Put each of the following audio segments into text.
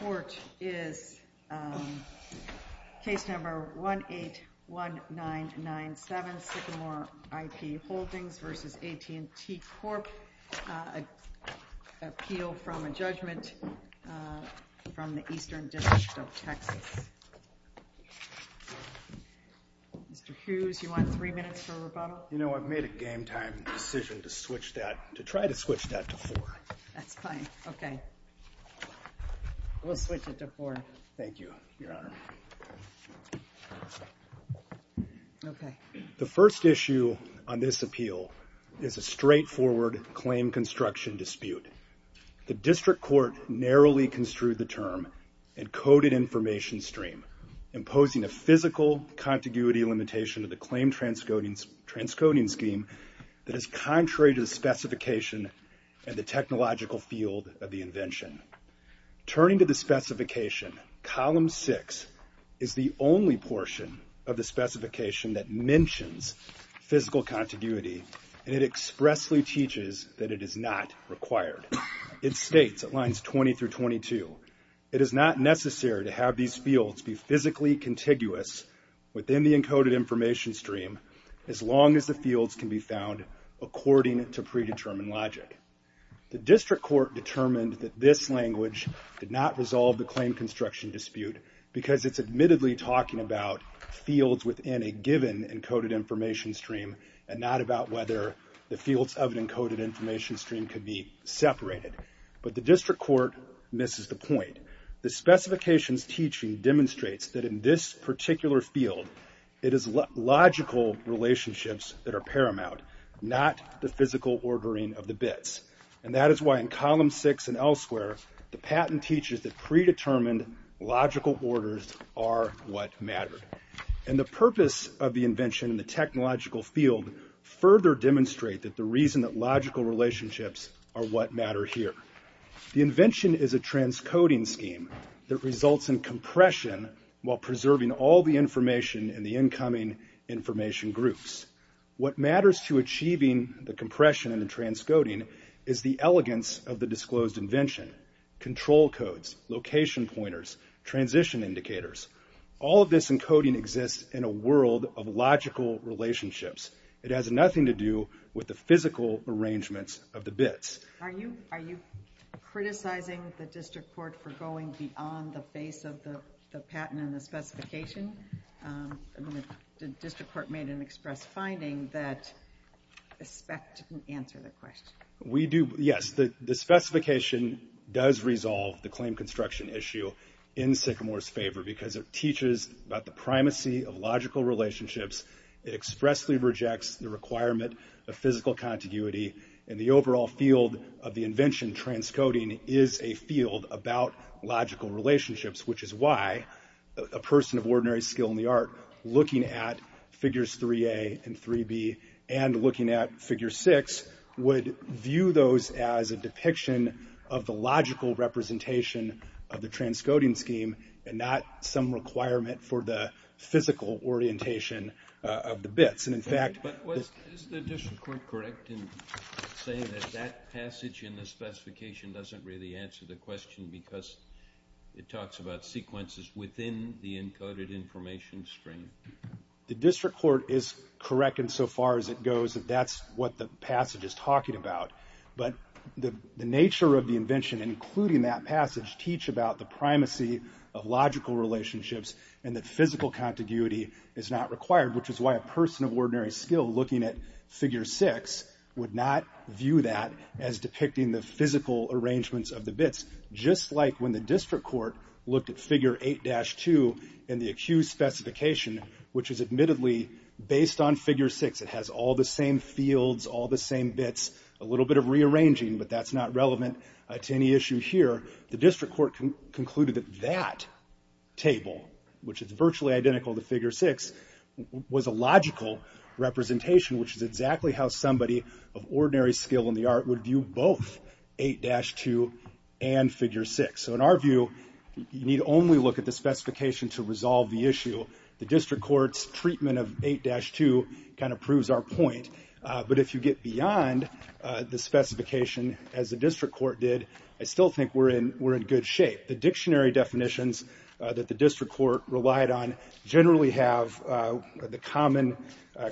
Court is case number 181997, Sycamore IP Holdings v. AT&T Corp, appeal from a judgment from the Eastern District of Texas. Mr. Hughes, you want three minutes for rebuttal? Well, you know, I've made a game time decision to switch that, to try to switch that to four. That's fine. Okay. We'll switch it to four. Thank you, Your Honor. The first issue on this appeal is a straightforward claim construction dispute. The District Court narrowly construed the term and coded information stream, imposing a physical contiguity limitation of the claim transcoding scheme that is contrary to the specification and the technological field of the invention. Turning to the specification, column six is the only portion of the specification that mentions physical contiguity, and it expressly teaches that it is not required. It states at lines 20 through 22, it is not necessary to have these fields be physically contiguous within the encoded information stream as long as the fields can be found according to predetermined logic. The District Court determined that this language did not resolve the claim construction dispute because it's admittedly talking about fields within a given encoded information stream and not about whether the fields of an encoded information stream can be separated. But the District Court misses the point. The specifications teaching demonstrates that in this particular field, it is logical relationships that are paramount, not the physical ordering of the bits. And that is why in column six and elsewhere, the patent teaches that predetermined logical orders are what matter. And the purpose of the invention and the technological field further demonstrate that the reason that logical relationships are what matter here. The invention is a transcoding scheme that results in compression while preserving all the information in the incoming information groups. What matters to achieving the compression and the transcoding is the elegance of the disclosed invention. Control codes, location pointers, transition indicators, all of this encoding exists in a world of logical relationships. It has nothing to do with the physical arrangements of the bits. Are you criticizing the District Court for going beyond the base of the patent and the specification? The District Court made an express finding that ESPEC didn't answer that question. Yes, the specification does resolve the claim construction issue in Sycamore's favor because it teaches about the primacy of logical relationships. It expressly rejects the requirement of physical contiguity and the overall field of the invention transcoding is a field about logical relationships, which is why a person of ordinary skill in the art looking at figures 3A and 3B and looking at figure six would view those as a depiction of the logical representation of the transcoding scheme and not some requirement for the physical orientation of the bits. Is the District Court correct in saying that that passage in the specification doesn't really answer the question because it talks about sequences within the encoded information stream? The District Court is correct insofar as it goes that that's what the passage is talking about. But the nature of the invention, including that passage, teach about the primacy of logical relationships and the physical contiguity is not required, which is why a person of ordinary skill looking at figure six would not view that as depicting the physical arrangements of the bits, just like when the District Court looked at figure 8-2 in the accused specification, which is admittedly based on figure six. It has all the same fields, all the same bits, a little bit of rearranging, but that's not relevant to any issue here. The District Court concluded that that table, which is virtually identical to figure six, was a logical representation, which is exactly how somebody of ordinary skill in the art would view both 8-2 and figure six. So in our view, you need only look at the specification to resolve the issue. The District Court's treatment of 8-2 kind of proves our point. But if you get beyond the specification, as the District Court did, I still think we're in good shape. The dictionary definitions that the District Court relied on generally have the common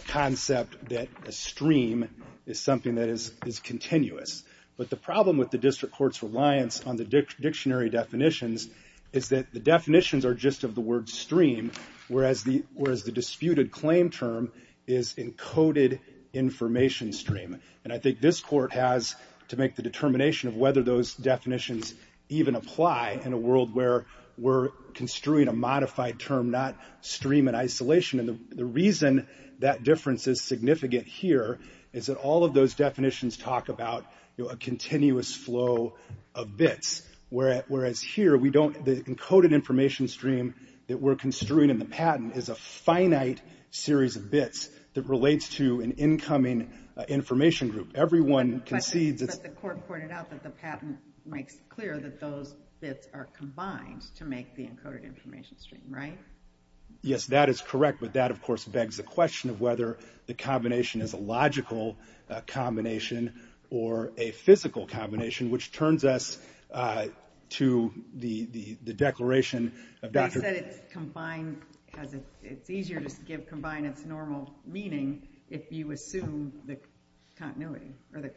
concept that a stream is something that is continuous. But the problem with the District Court's reliance on the dictionary definitions is that the definitions are just of the word stream, whereas the disputed claim term is encoded information stream. And I think this court has to make the determination of whether those definitions even apply in a world where we're construing a modified term, not stream in isolation. And the reason that difference is significant here is that all of those definitions talk about a continuous flow of bits, whereas here the encoded information stream that we're construing in the patent is a finite series of bits that relates to an incoming information group. Everyone concedes it's... But the court pointed out that the patent makes clear that those bits are combined to make the encoded information stream, right? Yes, that is correct. But that, of course, begs the question of whether the combination is a logical combination or a physical combination, which turns us to the declaration of Dr. They said it's combined. It's easier to give combined its normal meaning if you assume the continuity or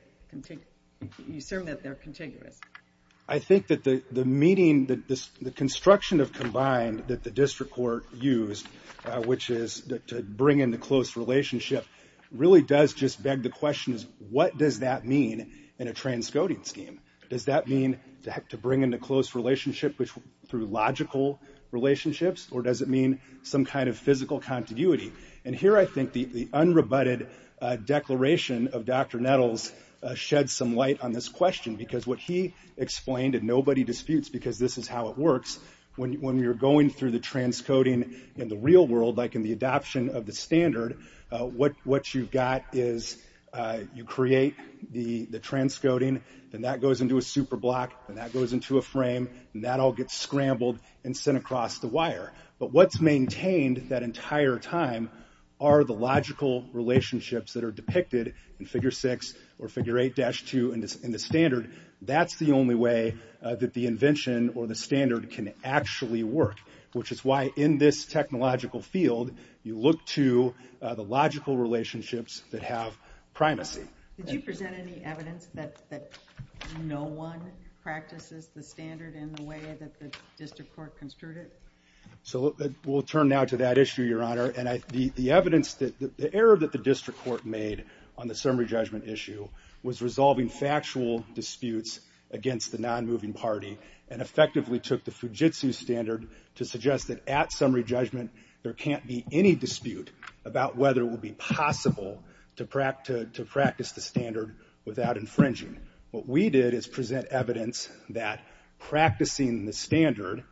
you assume that they're contiguous. I think that the meeting, the construction of combined that the district court used, which is to bring in the close relationship, really does just beg the question is what does that mean in a transcoding scheme? Does that mean to bring in a close relationship through logical relationships or does it mean some kind of physical continuity? And here I think the unrebutted declaration of Dr. Nettles shed some light on this question, because what he explained and nobody disputes because this is how it works when you're going through the transcoding in the real world, like in the adoption of the standard, what you've got is you create the transcoding. Then that goes into a superblock and that goes into a frame and that all gets scrambled and sent across the wire. But what's maintained that entire time are the logical relationships that are depicted in figure six or figure eight dash two in the standard. That's the only way that the invention or the standard can actually work, which is why in this technological field you look to the logical relationships that have primacy. Did you present any evidence that no one practices the standard in the way that the district court construed it? We'll turn now to that issue, Your Honor. The evidence that the error that the district court made on the summary judgment issue was resolving factual disputes against the non-moving party and effectively took the Fujitsu standard to suggest that at summary judgment there can't be any dispute about whether it would be possible to practice the standard without infringing. What we did is present evidence that practicing the standard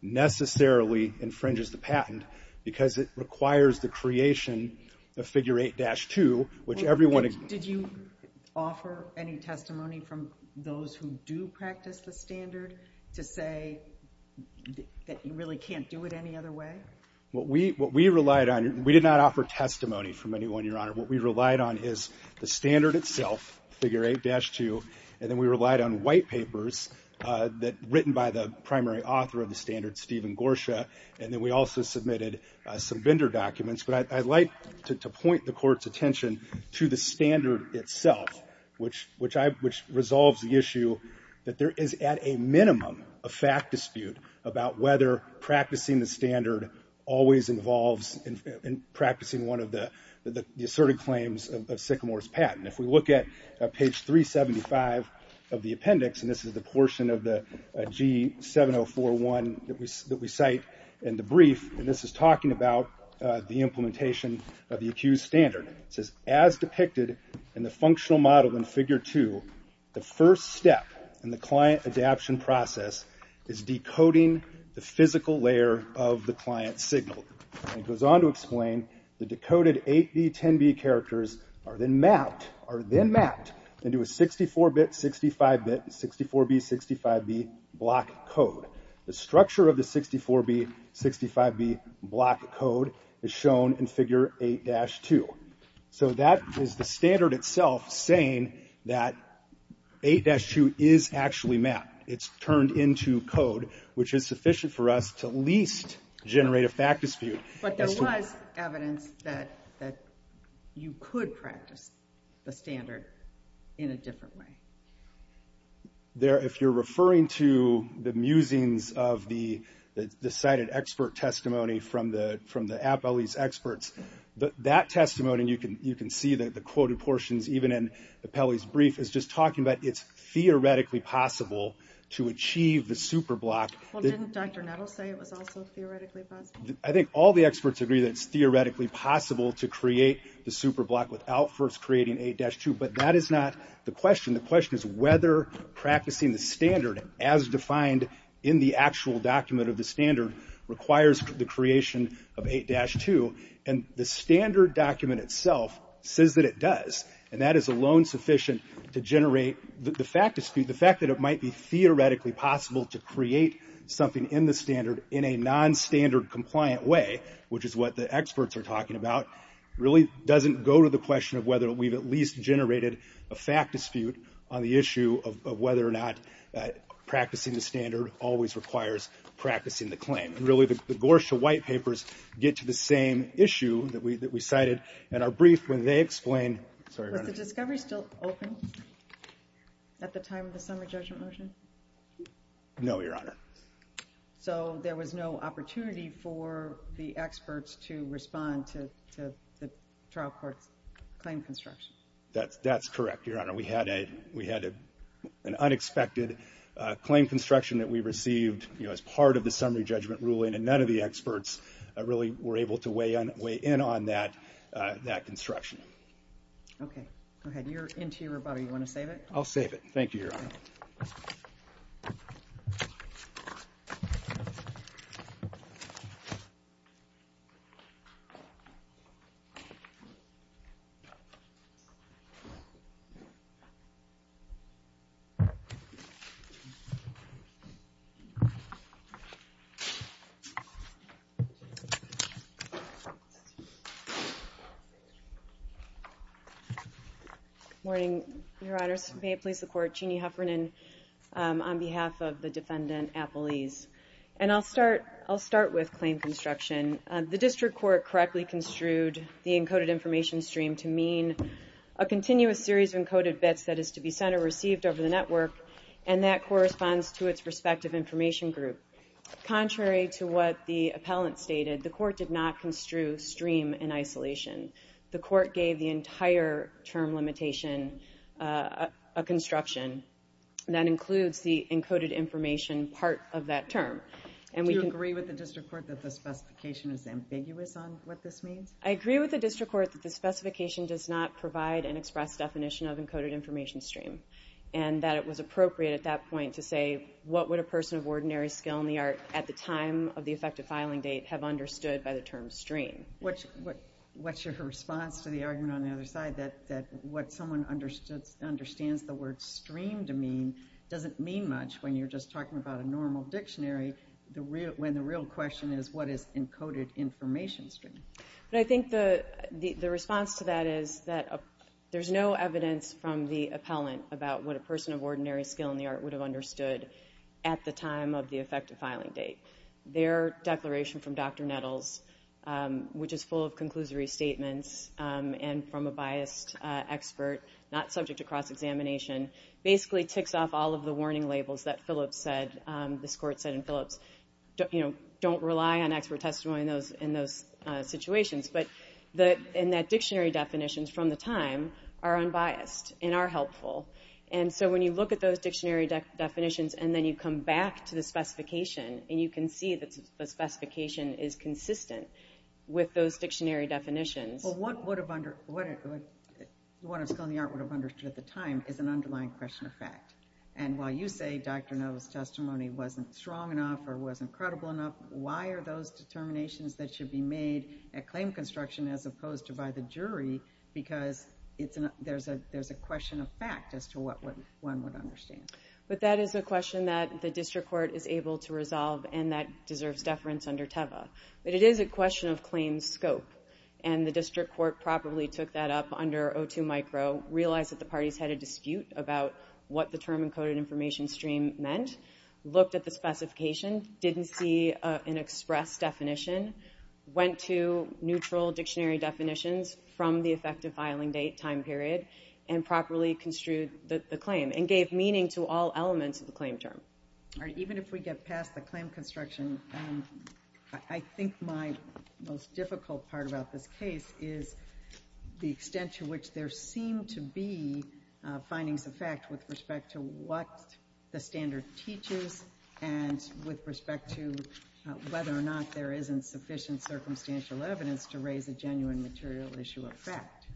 necessarily infringes the patent because it requires the creation of figure eight dash two, which everyone... Did you offer any testimony from those who do practice the standard to say that you really can't do it any other way? What we relied on, we did not offer testimony from anyone, Your Honor. What we relied on is the standard itself, figure eight dash two, and then we relied on white papers written by the primary author of the standard, Stephen Gorsha, and then we also submitted some vendor documents. But I'd like to point the court's attention to the standard itself, which resolves the issue that there is at a minimum a fact dispute about whether practicing the standard always involves practicing one of the asserted claims of Sycamore's patent. If we look at page 375 of the appendix, and this is the portion of the G7041 that we cite in the brief, and this is talking about the implementation of the accused standard. It says, as depicted in the functional model in figure two, the first step in the client adaption process is decoding the physical layer of the client signal. It goes on to explain the decoded 8B10B characters are then mapped into a 64-bit, 65-bit, 64B65B block code. The structure of the 64B65B block code is shown in figure 8-2. So that is the standard itself saying that 8-2 is actually mapped. It's turned into code, which is sufficient for us to least generate a fact dispute. But there was evidence that you could practice the standard in a different way. If you're referring to the musings of the cited expert testimony from the Appellee's experts, that testimony, you can see that the quoted portions, even in the Appellee's brief, is just talking about it's theoretically possible to achieve the superblock. Well, didn't Dr. Nettle say it was also theoretically possible? I think all the experts agree that it's theoretically possible to create the superblock without first creating 8-2, but that is not the question. The question is whether practicing the standard as defined in the actual document of the standard requires the creation of 8-2. And the standard document itself says that it does, and that is alone sufficient to generate the fact dispute. The fact that it might be theoretically possible to create something in the standard in a non-standard compliant way, which is what the experts are talking about, really doesn't go to the question of whether we've at least generated a fact dispute on the issue of whether or not practicing the standard always requires practicing the claim. Really, the Gorsha White Papers get to the same issue that we cited in our brief when they explain... Was the discovery still open at the time of the summer judgment motion? No, Your Honor. So there was no opportunity for the experts to respond to the trial court's claim construction? That's correct, Your Honor. We had an unexpected claim construction that we received as part of the summary judgment ruling, and none of the experts really were able to weigh in on that construction. Okay. Go ahead. You're into your rebuttal. You want to save it? I'll save it. Thank you, Your Honor. Thank you. And I'll start with claim construction. The district court correctly construed the encoded information stream to mean a continuous series of encoded bits that is to be sent or received over the network, and that corresponds to its respective information group. Contrary to what the appellant stated, the court did not construe stream in isolation. The court gave the entire term limitation a construction that includes the encoded information part of that term. Do you agree with the district court that the specification is ambiguous on what this means? I agree with the district court that the specification does not provide an express definition of encoded information stream, and that it was appropriate at that point to say, what would a person of ordinary skill in the art at the time of the effective filing date have understood by the term stream? What's your response to the argument on the other side that what someone understands the word stream to mean doesn't mean much when you're just talking about a normal dictionary, when the real question is what is encoded information stream? I think the response to that is that there's no evidence from the appellant about what a person of ordinary skill in the art would have understood at the time of the effective filing date. Their declaration from Dr. Nettles, which is full of conclusory statements, and from a biased expert not subject to cross-examination, basically ticks off all of the warning labels that this court said in Phillips. Don't rely on expert testimony in those situations, but in that dictionary definitions from the time are unbiased and are helpful. And so when you look at those dictionary definitions, and then you come back to the specification, and you can see that the specification is consistent with those dictionary definitions. Well, what a skill in the art would have understood at the time is an underlying question of fact. And while you say Dr. Nettles' testimony wasn't strong enough or wasn't credible enough, why are those determinations that should be made at claim construction as opposed to by the jury? Because there's a question of fact as to what one would understand. But that is a question that the district court is able to resolve, and that deserves deference under TEVA. But it is a question of claims scope, and the district court probably took that up under O2 micro, realized that the parties had a dispute about what the term encoded information stream meant, looked at the specification, didn't see an express definition, went to neutral dictionary definitions from the effective filing date time period, and properly construed the claim and gave meaning to all elements of the claim term. Even if we get past the claim construction, I think my most difficult part about this case is the extent to which there seem to be findings of fact with respect to what the standard teaches and with respect to whether or not there isn't sufficient circumstantial evidence to raise a genuine material issue of fact.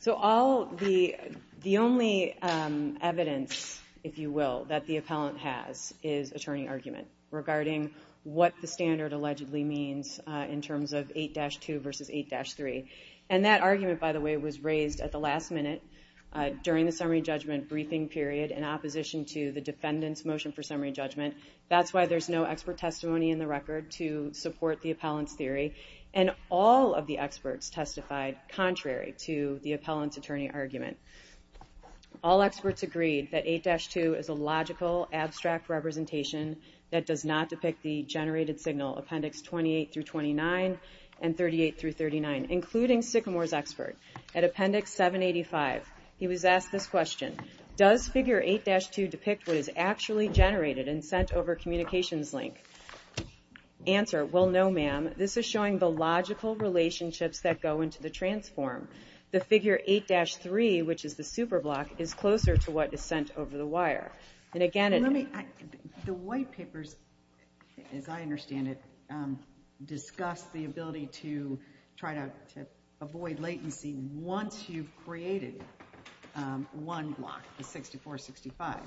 So the only evidence, if you will, that the appellant has is attorney argument regarding what the standard allegedly means in terms of 8-2 versus 8-3. And that argument, by the way, was raised at the last minute during the summary judgment briefing period in opposition to the defendant's motion for summary judgment. That's why there's no expert testimony in the record to support the appellant's theory. And all of the experts testified contrary to the appellant's attorney argument. All experts agreed that 8-2 is a logical, abstract representation that does not depict the generated signal, Appendix 28-29 and 38-39, including Sycamore's expert. At Appendix 785, he was asked this question, Does Figure 8-2 depict what is actually generated and sent over communications link? Answer, well, no, ma'am. This is showing the logical relationships that go into the transform. The Figure 8-3, which is the superblock, is closer to what is sent over the wire. And again, the white papers, as I understand it, discuss the ability to try to avoid latency once you've created one block, the 64-65.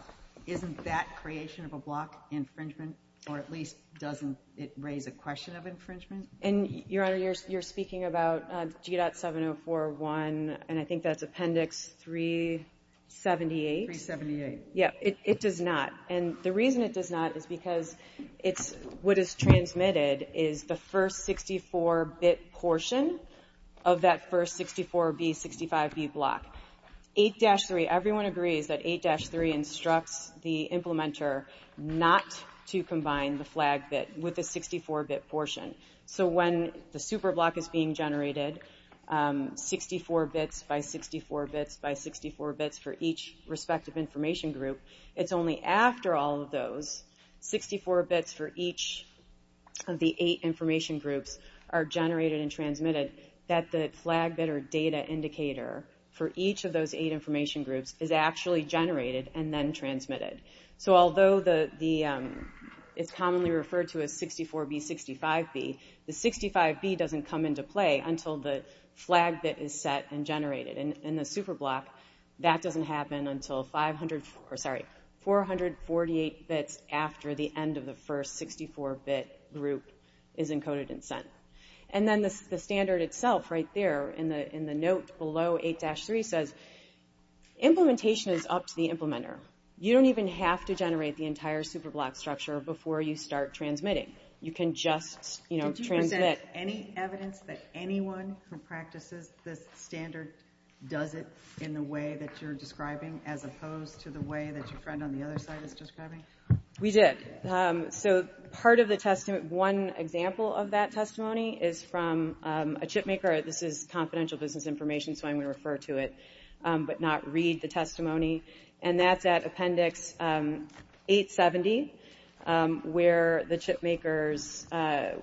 Isn't that creation of a block infringement? Or at least doesn't it raise a question of infringement? And, Your Honor, you're speaking about G.7041, and I think that's Appendix 378. 378. Yeah, it does not. And the reason it does not is because it's what is transmitted is the first 64-bit portion of that first 64-B, 65-B block. 8-3, everyone agrees that 8-3 instructs the implementer not to combine the flag bit with the 64-bit portion. So when the superblock is being generated, 64 bits by 64 bits by 64 bits for each respective information group, it's only after all of those 64 bits for each of the eight information groups are generated and transmitted that the flag bit or data indicator for each of those eight information groups is actually generated and then transmitted. So although it's commonly referred to as 64-B, 65-B, the 65-B doesn't come into play until the flag bit is set and generated. In the superblock, that doesn't happen until 448 bits after the end of the first 64-bit group is encoded and sent. And then the standard itself right there in the note below 8-3 says implementation is up to the implementer. You don't even have to generate the entire superblock structure before you start transmitting. You can just transmit. Did you present any evidence that anyone who practices this standard does it in the way that you're describing as opposed to the way that your friend on the other side is describing? We did. One example of that testimony is from a chipmaker. This is confidential business information, so I'm going to refer to it but not read the testimony. And that's at Appendix 870 where the chipmaker's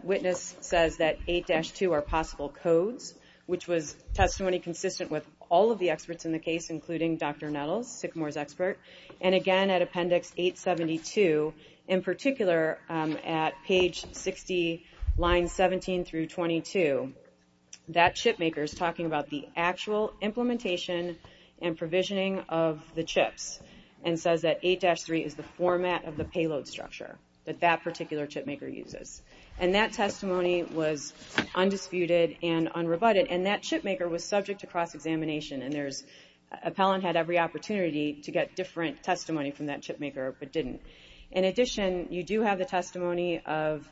witness says that 8-2 are possible codes, which was testimony consistent with all of the experts in the case, including Dr. Nettles, Sycamore's expert. And again at Appendix 872, in particular at page 60, line 17 through 22, that chipmaker is talking about the actual implementation and provisioning of the chips and says that 8-3 is the format of the payload structure that that particular chipmaker uses. And that testimony was undisputed and unrebutted, and that chipmaker was subject to cross-examination. Appellant had every opportunity to get different testimony from that chipmaker but didn't. In addition, you do have the testimony of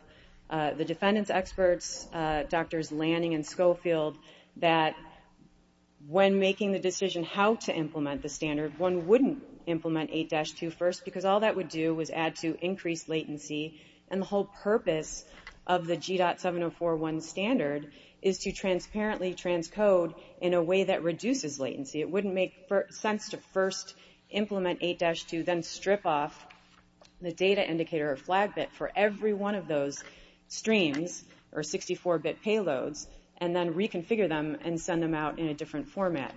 the defendant's experts, Drs. Lanning and Schofield, that when making the decision how to implement the standard, one wouldn't implement 8-2 first because all that would do is add to increased latency, and the whole purpose of the GDOT 7041 standard is to transparently transcode in a way that reduces latency. It wouldn't make sense to first implement 8-2, then strip off the data indicator or flag bit for every one of those streams or 64-bit payloads, and then reconfigure them and send them out in a different format.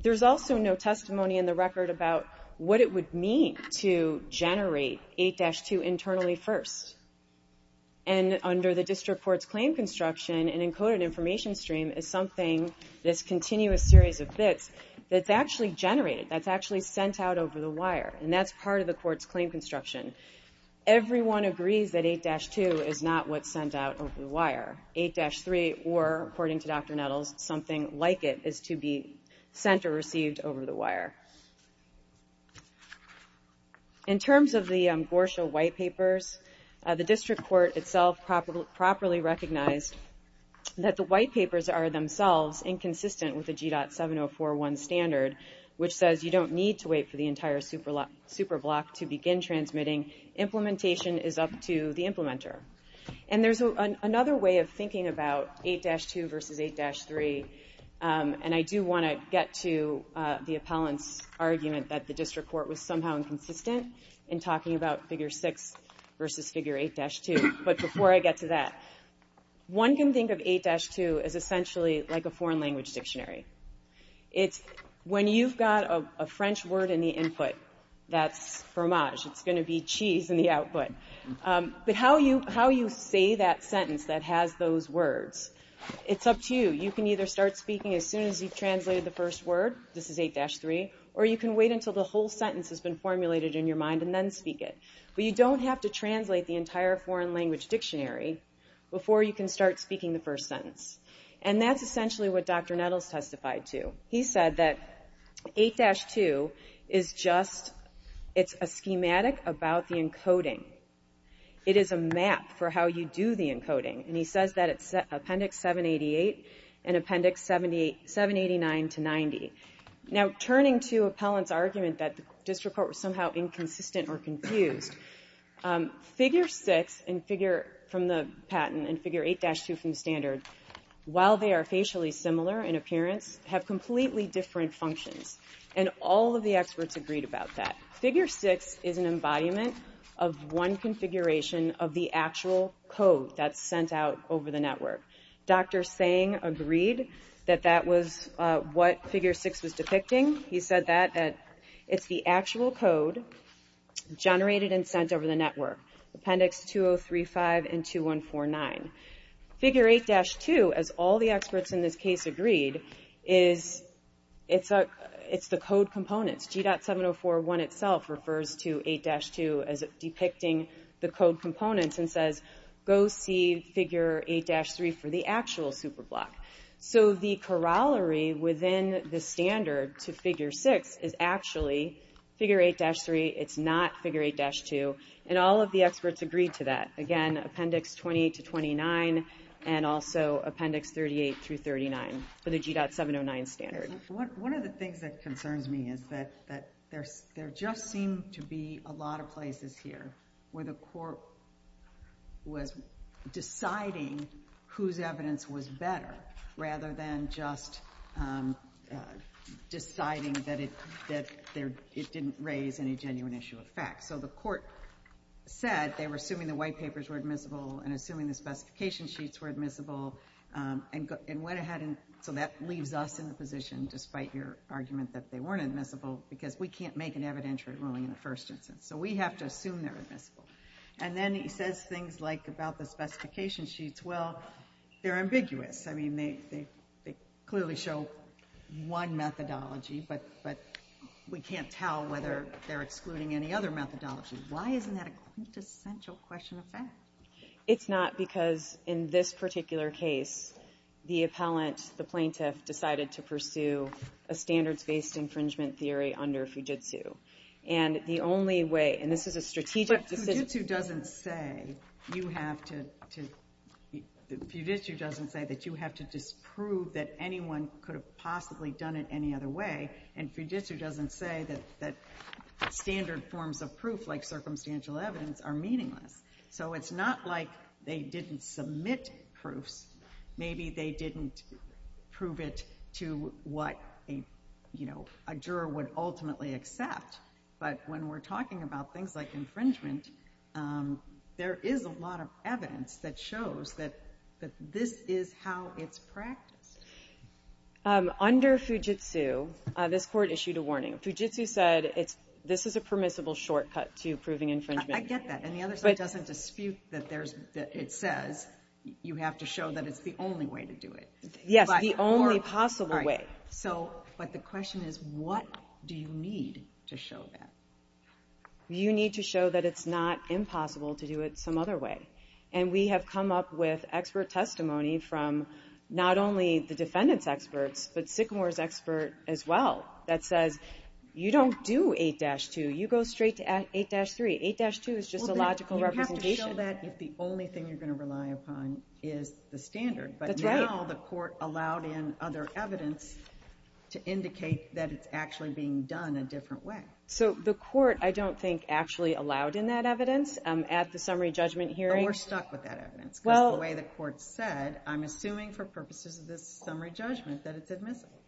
There's also no testimony in the record about what it would mean to generate 8-2 internally first. And under the district court's claim construction, an encoded information stream is something, this continuous series of bits, that's actually generated, that's actually sent out over the wire, and that's part of the court's claim construction. Everyone agrees that 8-2 is not what's sent out over the wire. 8-3 or, according to Dr. Nettles, something like it is to be sent or received over the wire. In terms of the GORSHA white papers, the district court itself properly recognized that the white papers are themselves inconsistent with the GDOT 7041 standard, which says you don't need to wait for the entire superblock to begin transmitting. Implementation is up to the implementer. And there's another way of thinking about 8-2 versus 8-3, and I do want to get to the appellant's argument that the district court was somehow inconsistent in talking about figure 6 versus figure 8-2. But before I get to that, one can think of 8-2 as essentially like a foreign language dictionary. When you've got a French word in the input, that's fromage. It's going to be cheese in the output. But how you say that sentence that has those words, it's up to you. You can either start speaking as soon as you've translated the first word, this is 8-3, or you can wait until the whole sentence has been formulated in your mind and then speak it. But you don't have to translate the entire foreign language dictionary before you can start speaking the first sentence. And that's essentially what Dr. Nettles testified to. He said that 8-2 is just a schematic about the encoding. It is a map for how you do the encoding. And he says that it's Appendix 788 and Appendix 789-90. Now, turning to appellant's argument that the district court was somehow inconsistent or confused, figure 6 from the patent and figure 8-2 from the standard, while they are facially similar in appearance, have completely different functions. And all of the experts agreed about that. Figure 6 is an embodiment of one configuration of the actual code that's sent out over the network. Dr. Tseng agreed that that was what figure 6 was depicting. He said that it's the actual code generated and sent over the network, Appendix 2035 and 2149. Figure 8-2, as all the experts in this case agreed, is the code components. G.7041 itself refers to 8-2 as depicting the code components and says, go see figure 8-3 for the actual superblock. So the corollary within the standard to figure 6 is actually figure 8-3. It's not figure 8-2. And all of the experts agreed to that. Again, Appendix 20-29 and also Appendix 38-39 for the G.709 standard. One of the things that concerns me is that there just seem to be a lot of places here where the court was deciding whose evidence was better rather than just deciding that it didn't raise any genuine issue of fact. So the court said they were assuming the white papers were admissible and assuming the specification sheets were admissible and went ahead and so that leaves us in the position, despite your argument that they weren't admissible, because we can't make an evidentiary ruling in the first instance. So we have to assume they're admissible. And then he says things like about the specification sheets, well, they're ambiguous. I mean, they clearly show one methodology, but we can't tell whether they're excluding any other methodology. Why isn't that a quintessential question of fact? It's not because in this particular case the appellant, the plaintiff, decided to pursue a standards-based infringement theory under Fujitsu. And the only way, and this is a strategic decision. But Fujitsu doesn't say you have to, Fujitsu doesn't say that you have to disprove that anyone could have possibly done it any other way. And Fujitsu doesn't say that standard forms of proof like circumstantial evidence are meaningless. So it's not like they didn't submit proofs. Maybe they didn't prove it to what a juror would ultimately accept. But when we're talking about things like infringement, there is a lot of evidence that shows that this is how it's practiced. Under Fujitsu, this court issued a warning. Fujitsu said this is a permissible shortcut to proving infringement. I get that, and the other side doesn't dispute that it says you have to show that it's the only way to do it. Yes, the only possible way. But the question is what do you need to show that? You need to show that it's not impossible to do it some other way. And we have come up with expert testimony from not only the defendant's experts, but Sycamore's expert as well, that says you don't do 8-2, you go straight to 8-3. 8-2 is just a logical representation. You have to show that if the only thing you're going to rely upon is the standard. That's right. But now the court allowed in other evidence to indicate that it's actually being done a different way. So the court, I don't think, actually allowed in that evidence. At the summary judgment hearing... But we're stuck with that evidence, because the way the court said, I'm assuming for purposes of this summary judgment that it's admissible.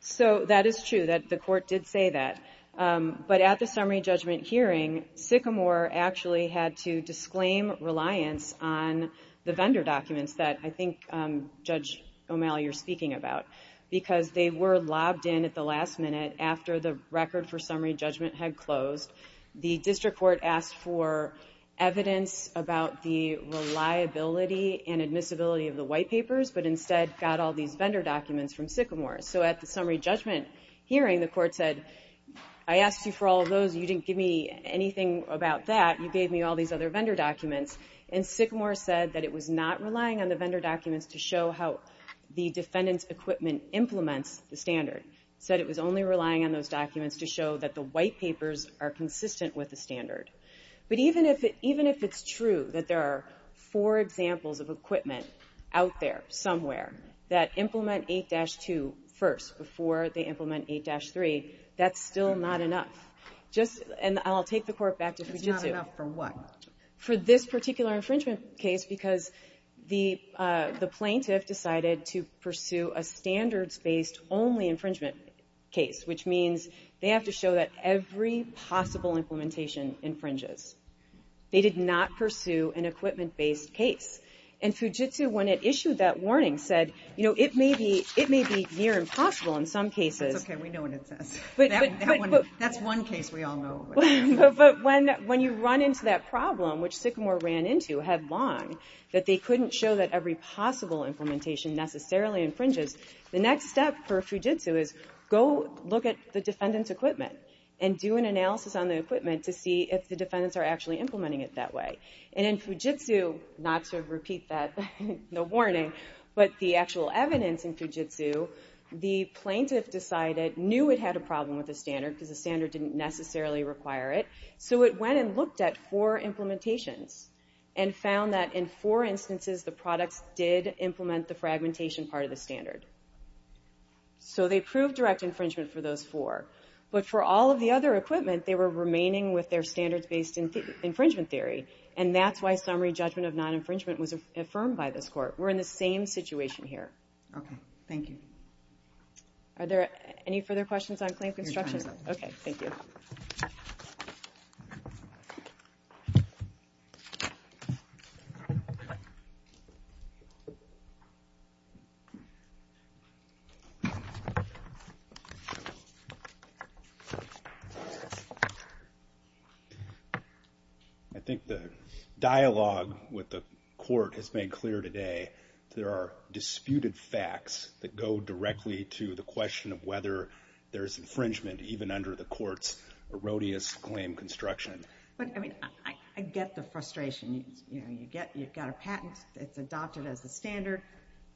So that is true, that the court did say that. But at the summary judgment hearing, Sycamore actually had to disclaim reliance on the vendor documents that I think, Judge O'Malley, you're speaking about, because they were lobbed in at the last minute after the record for summary judgment had closed. The district court asked for evidence about the reliability and admissibility of the white papers, but instead got all these vendor documents from Sycamore. So at the summary judgment hearing, the court said, I asked you for all those, you didn't give me anything about that. You gave me all these other vendor documents. And Sycamore said that it was not relying on the vendor documents to show how the defendant's equipment implements the standard. It said it was only relying on those documents to show that the white papers are consistent with the standard. But even if it's true that there are four examples of equipment out there somewhere that implement 8-2 first before they implement 8-3, that's still not enough. And I'll take the court back to Fujitsu. It's not enough for what? For this particular infringement case, because the plaintiff decided to pursue a standards-based only infringement case, which means they have to show that every possible implementation infringes. They did not pursue an equipment-based case. And Fujitsu, when it issued that warning, said, you know, it may be near impossible in some cases. That's okay, we know what it says. That's one case we all know. But when you run into that problem, which Sycamore ran into, had long, that they couldn't show that every possible implementation necessarily infringes, the next step for Fujitsu is go look at the defendant's equipment and do an analysis on the equipment to see if the defendants are actually implementing it that way. And in Fujitsu, not to repeat that, no warning, but the actual evidence in Fujitsu, the plaintiff decided, knew it had a problem with the standard because the standard didn't necessarily require it, so it went and looked at four implementations and found that in four instances, the products did implement the fragmentation part of the standard. So they proved direct infringement for those four. But for all of the other equipment, they were remaining with their standards-based infringement theory. And that's why summary judgment of non-infringement was affirmed by this court. We're in the same situation here. Okay, thank you. Are there any further questions on claim construction? Your time is up. Okay, thank you. Thank you. I think the dialogue with the court has made clear today there are disputed facts that go directly to the question of whether there's infringement, even under the court's erroneous claim construction. But, I mean, I get the frustration. You've got a patent, it's adopted as the standard,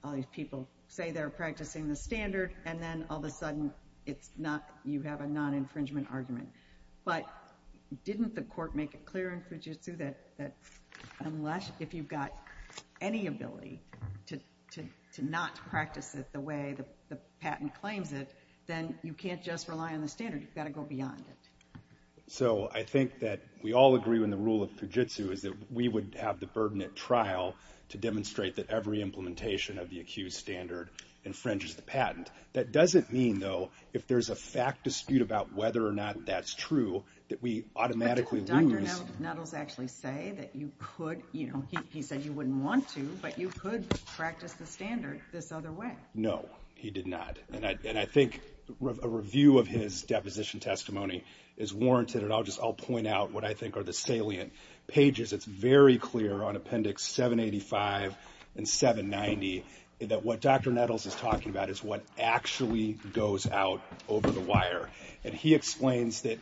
all these people say they're practicing the standard, and then all of a sudden you have a non-infringement argument. But didn't the court make it clear in Fujitsu that unless if you've got any ability to not practice it the way the patent claims it, then you can't just rely on the standard, you've got to go beyond it? So I think that we all agree when the rule of Fujitsu is that we would have the burden at trial to demonstrate that every implementation of the accused standard infringes the patent. That doesn't mean, though, if there's a fact dispute about whether or not that's true, that we automatically lose. But didn't Dr. Nettles actually say that you could, he said you wouldn't want to, but you could practice the standard this other way? No, he did not. And I think a review of his deposition testimony is warranted, and I'll just point out what I think are the salient pages. It's very clear on Appendix 785 and 790 that what Dr. Nettles is talking about is what actually goes out over the wire. And he explains that,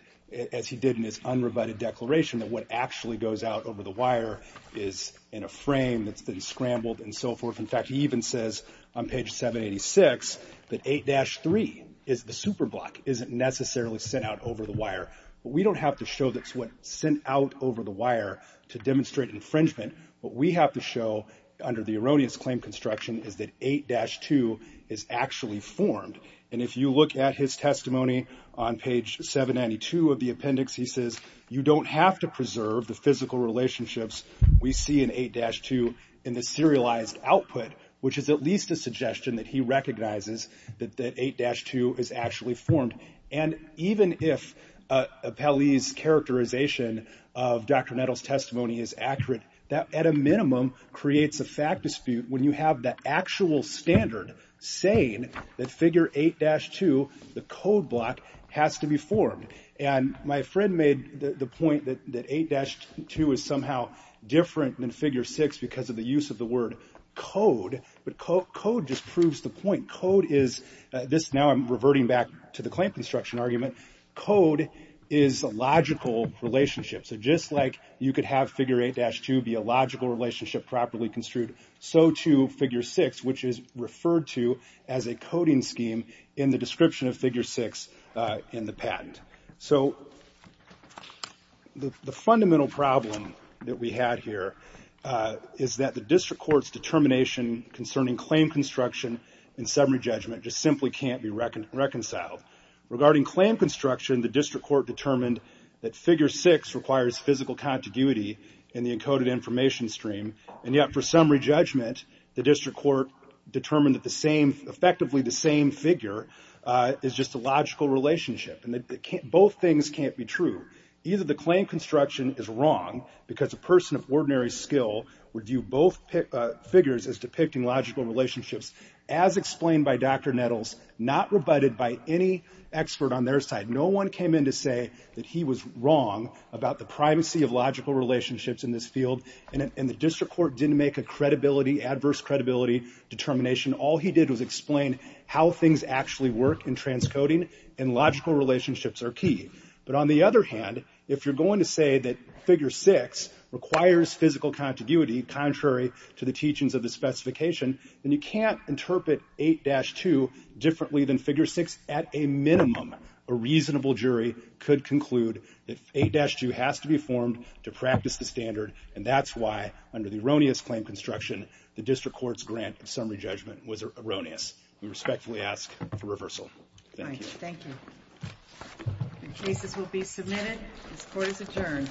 as he did in his unrebutted declaration, that what actually goes out over the wire is in a frame that's been scrambled and so forth. In fact, he even says on page 786 that 8-3, the superblock, isn't necessarily sent out over the wire. But we don't have to show that's what's sent out over the wire to demonstrate infringement. What we have to show, under the erroneous claim construction, is that 8-2 is actually formed. And if you look at his testimony on page 792 of the appendix, he says you don't have to preserve the physical relationships we see in 8-2 in the serialized output, which is at least a suggestion that he recognizes that 8-2 is actually formed. And even if Paley's characterization of Dr. Nettles' testimony is accurate, that, at a minimum, creates a fact dispute when you have the actual standard saying that Figure 8-2, the code block, has to be formed. And my friend made the point that 8-2 is somehow different than Figure 6 because of the use of the word code. But code just proves the point. Code is this. Now I'm reverting back to the claim construction argument. Code is a logical relationship. So just like you could have Figure 8-2 be a logical relationship properly construed, so too Figure 6, which is referred to as a coding scheme in the description of Figure 6 in the patent. So the fundamental problem that we had here is that the district court's determination concerning claim construction and summary judgment just simply can't be reconciled. Regarding claim construction, the district court determined that Figure 6 requires physical contiguity in the encoded information stream. And yet for summary judgment, the district court determined that effectively the same figure is just a logical relationship. Both things can't be true. Either the claim construction is wrong because a person of ordinary skill would view both figures as depicting logical relationships as explained by Dr. Nettles, not rebutted by any expert on their side. No one came in to say that he was wrong about the privacy of logical relationships in this field. And the district court didn't make a credibility, adverse credibility determination. All he did was explain how things actually work in transcoding, and logical relationships are key. But on the other hand, if you're going to say that Figure 6 requires physical contiguity contrary to the teachings of the specification, then you can't interpret 8-2 differently than Figure 6 at a minimum. A reasonable jury could conclude that 8-2 has to be formed to practice the standard, and that's why, under the erroneous claim construction, the district court's grant of summary judgment was erroneous. We respectfully ask for reversal. Thank you. The cases will be submitted. This court is adjourned.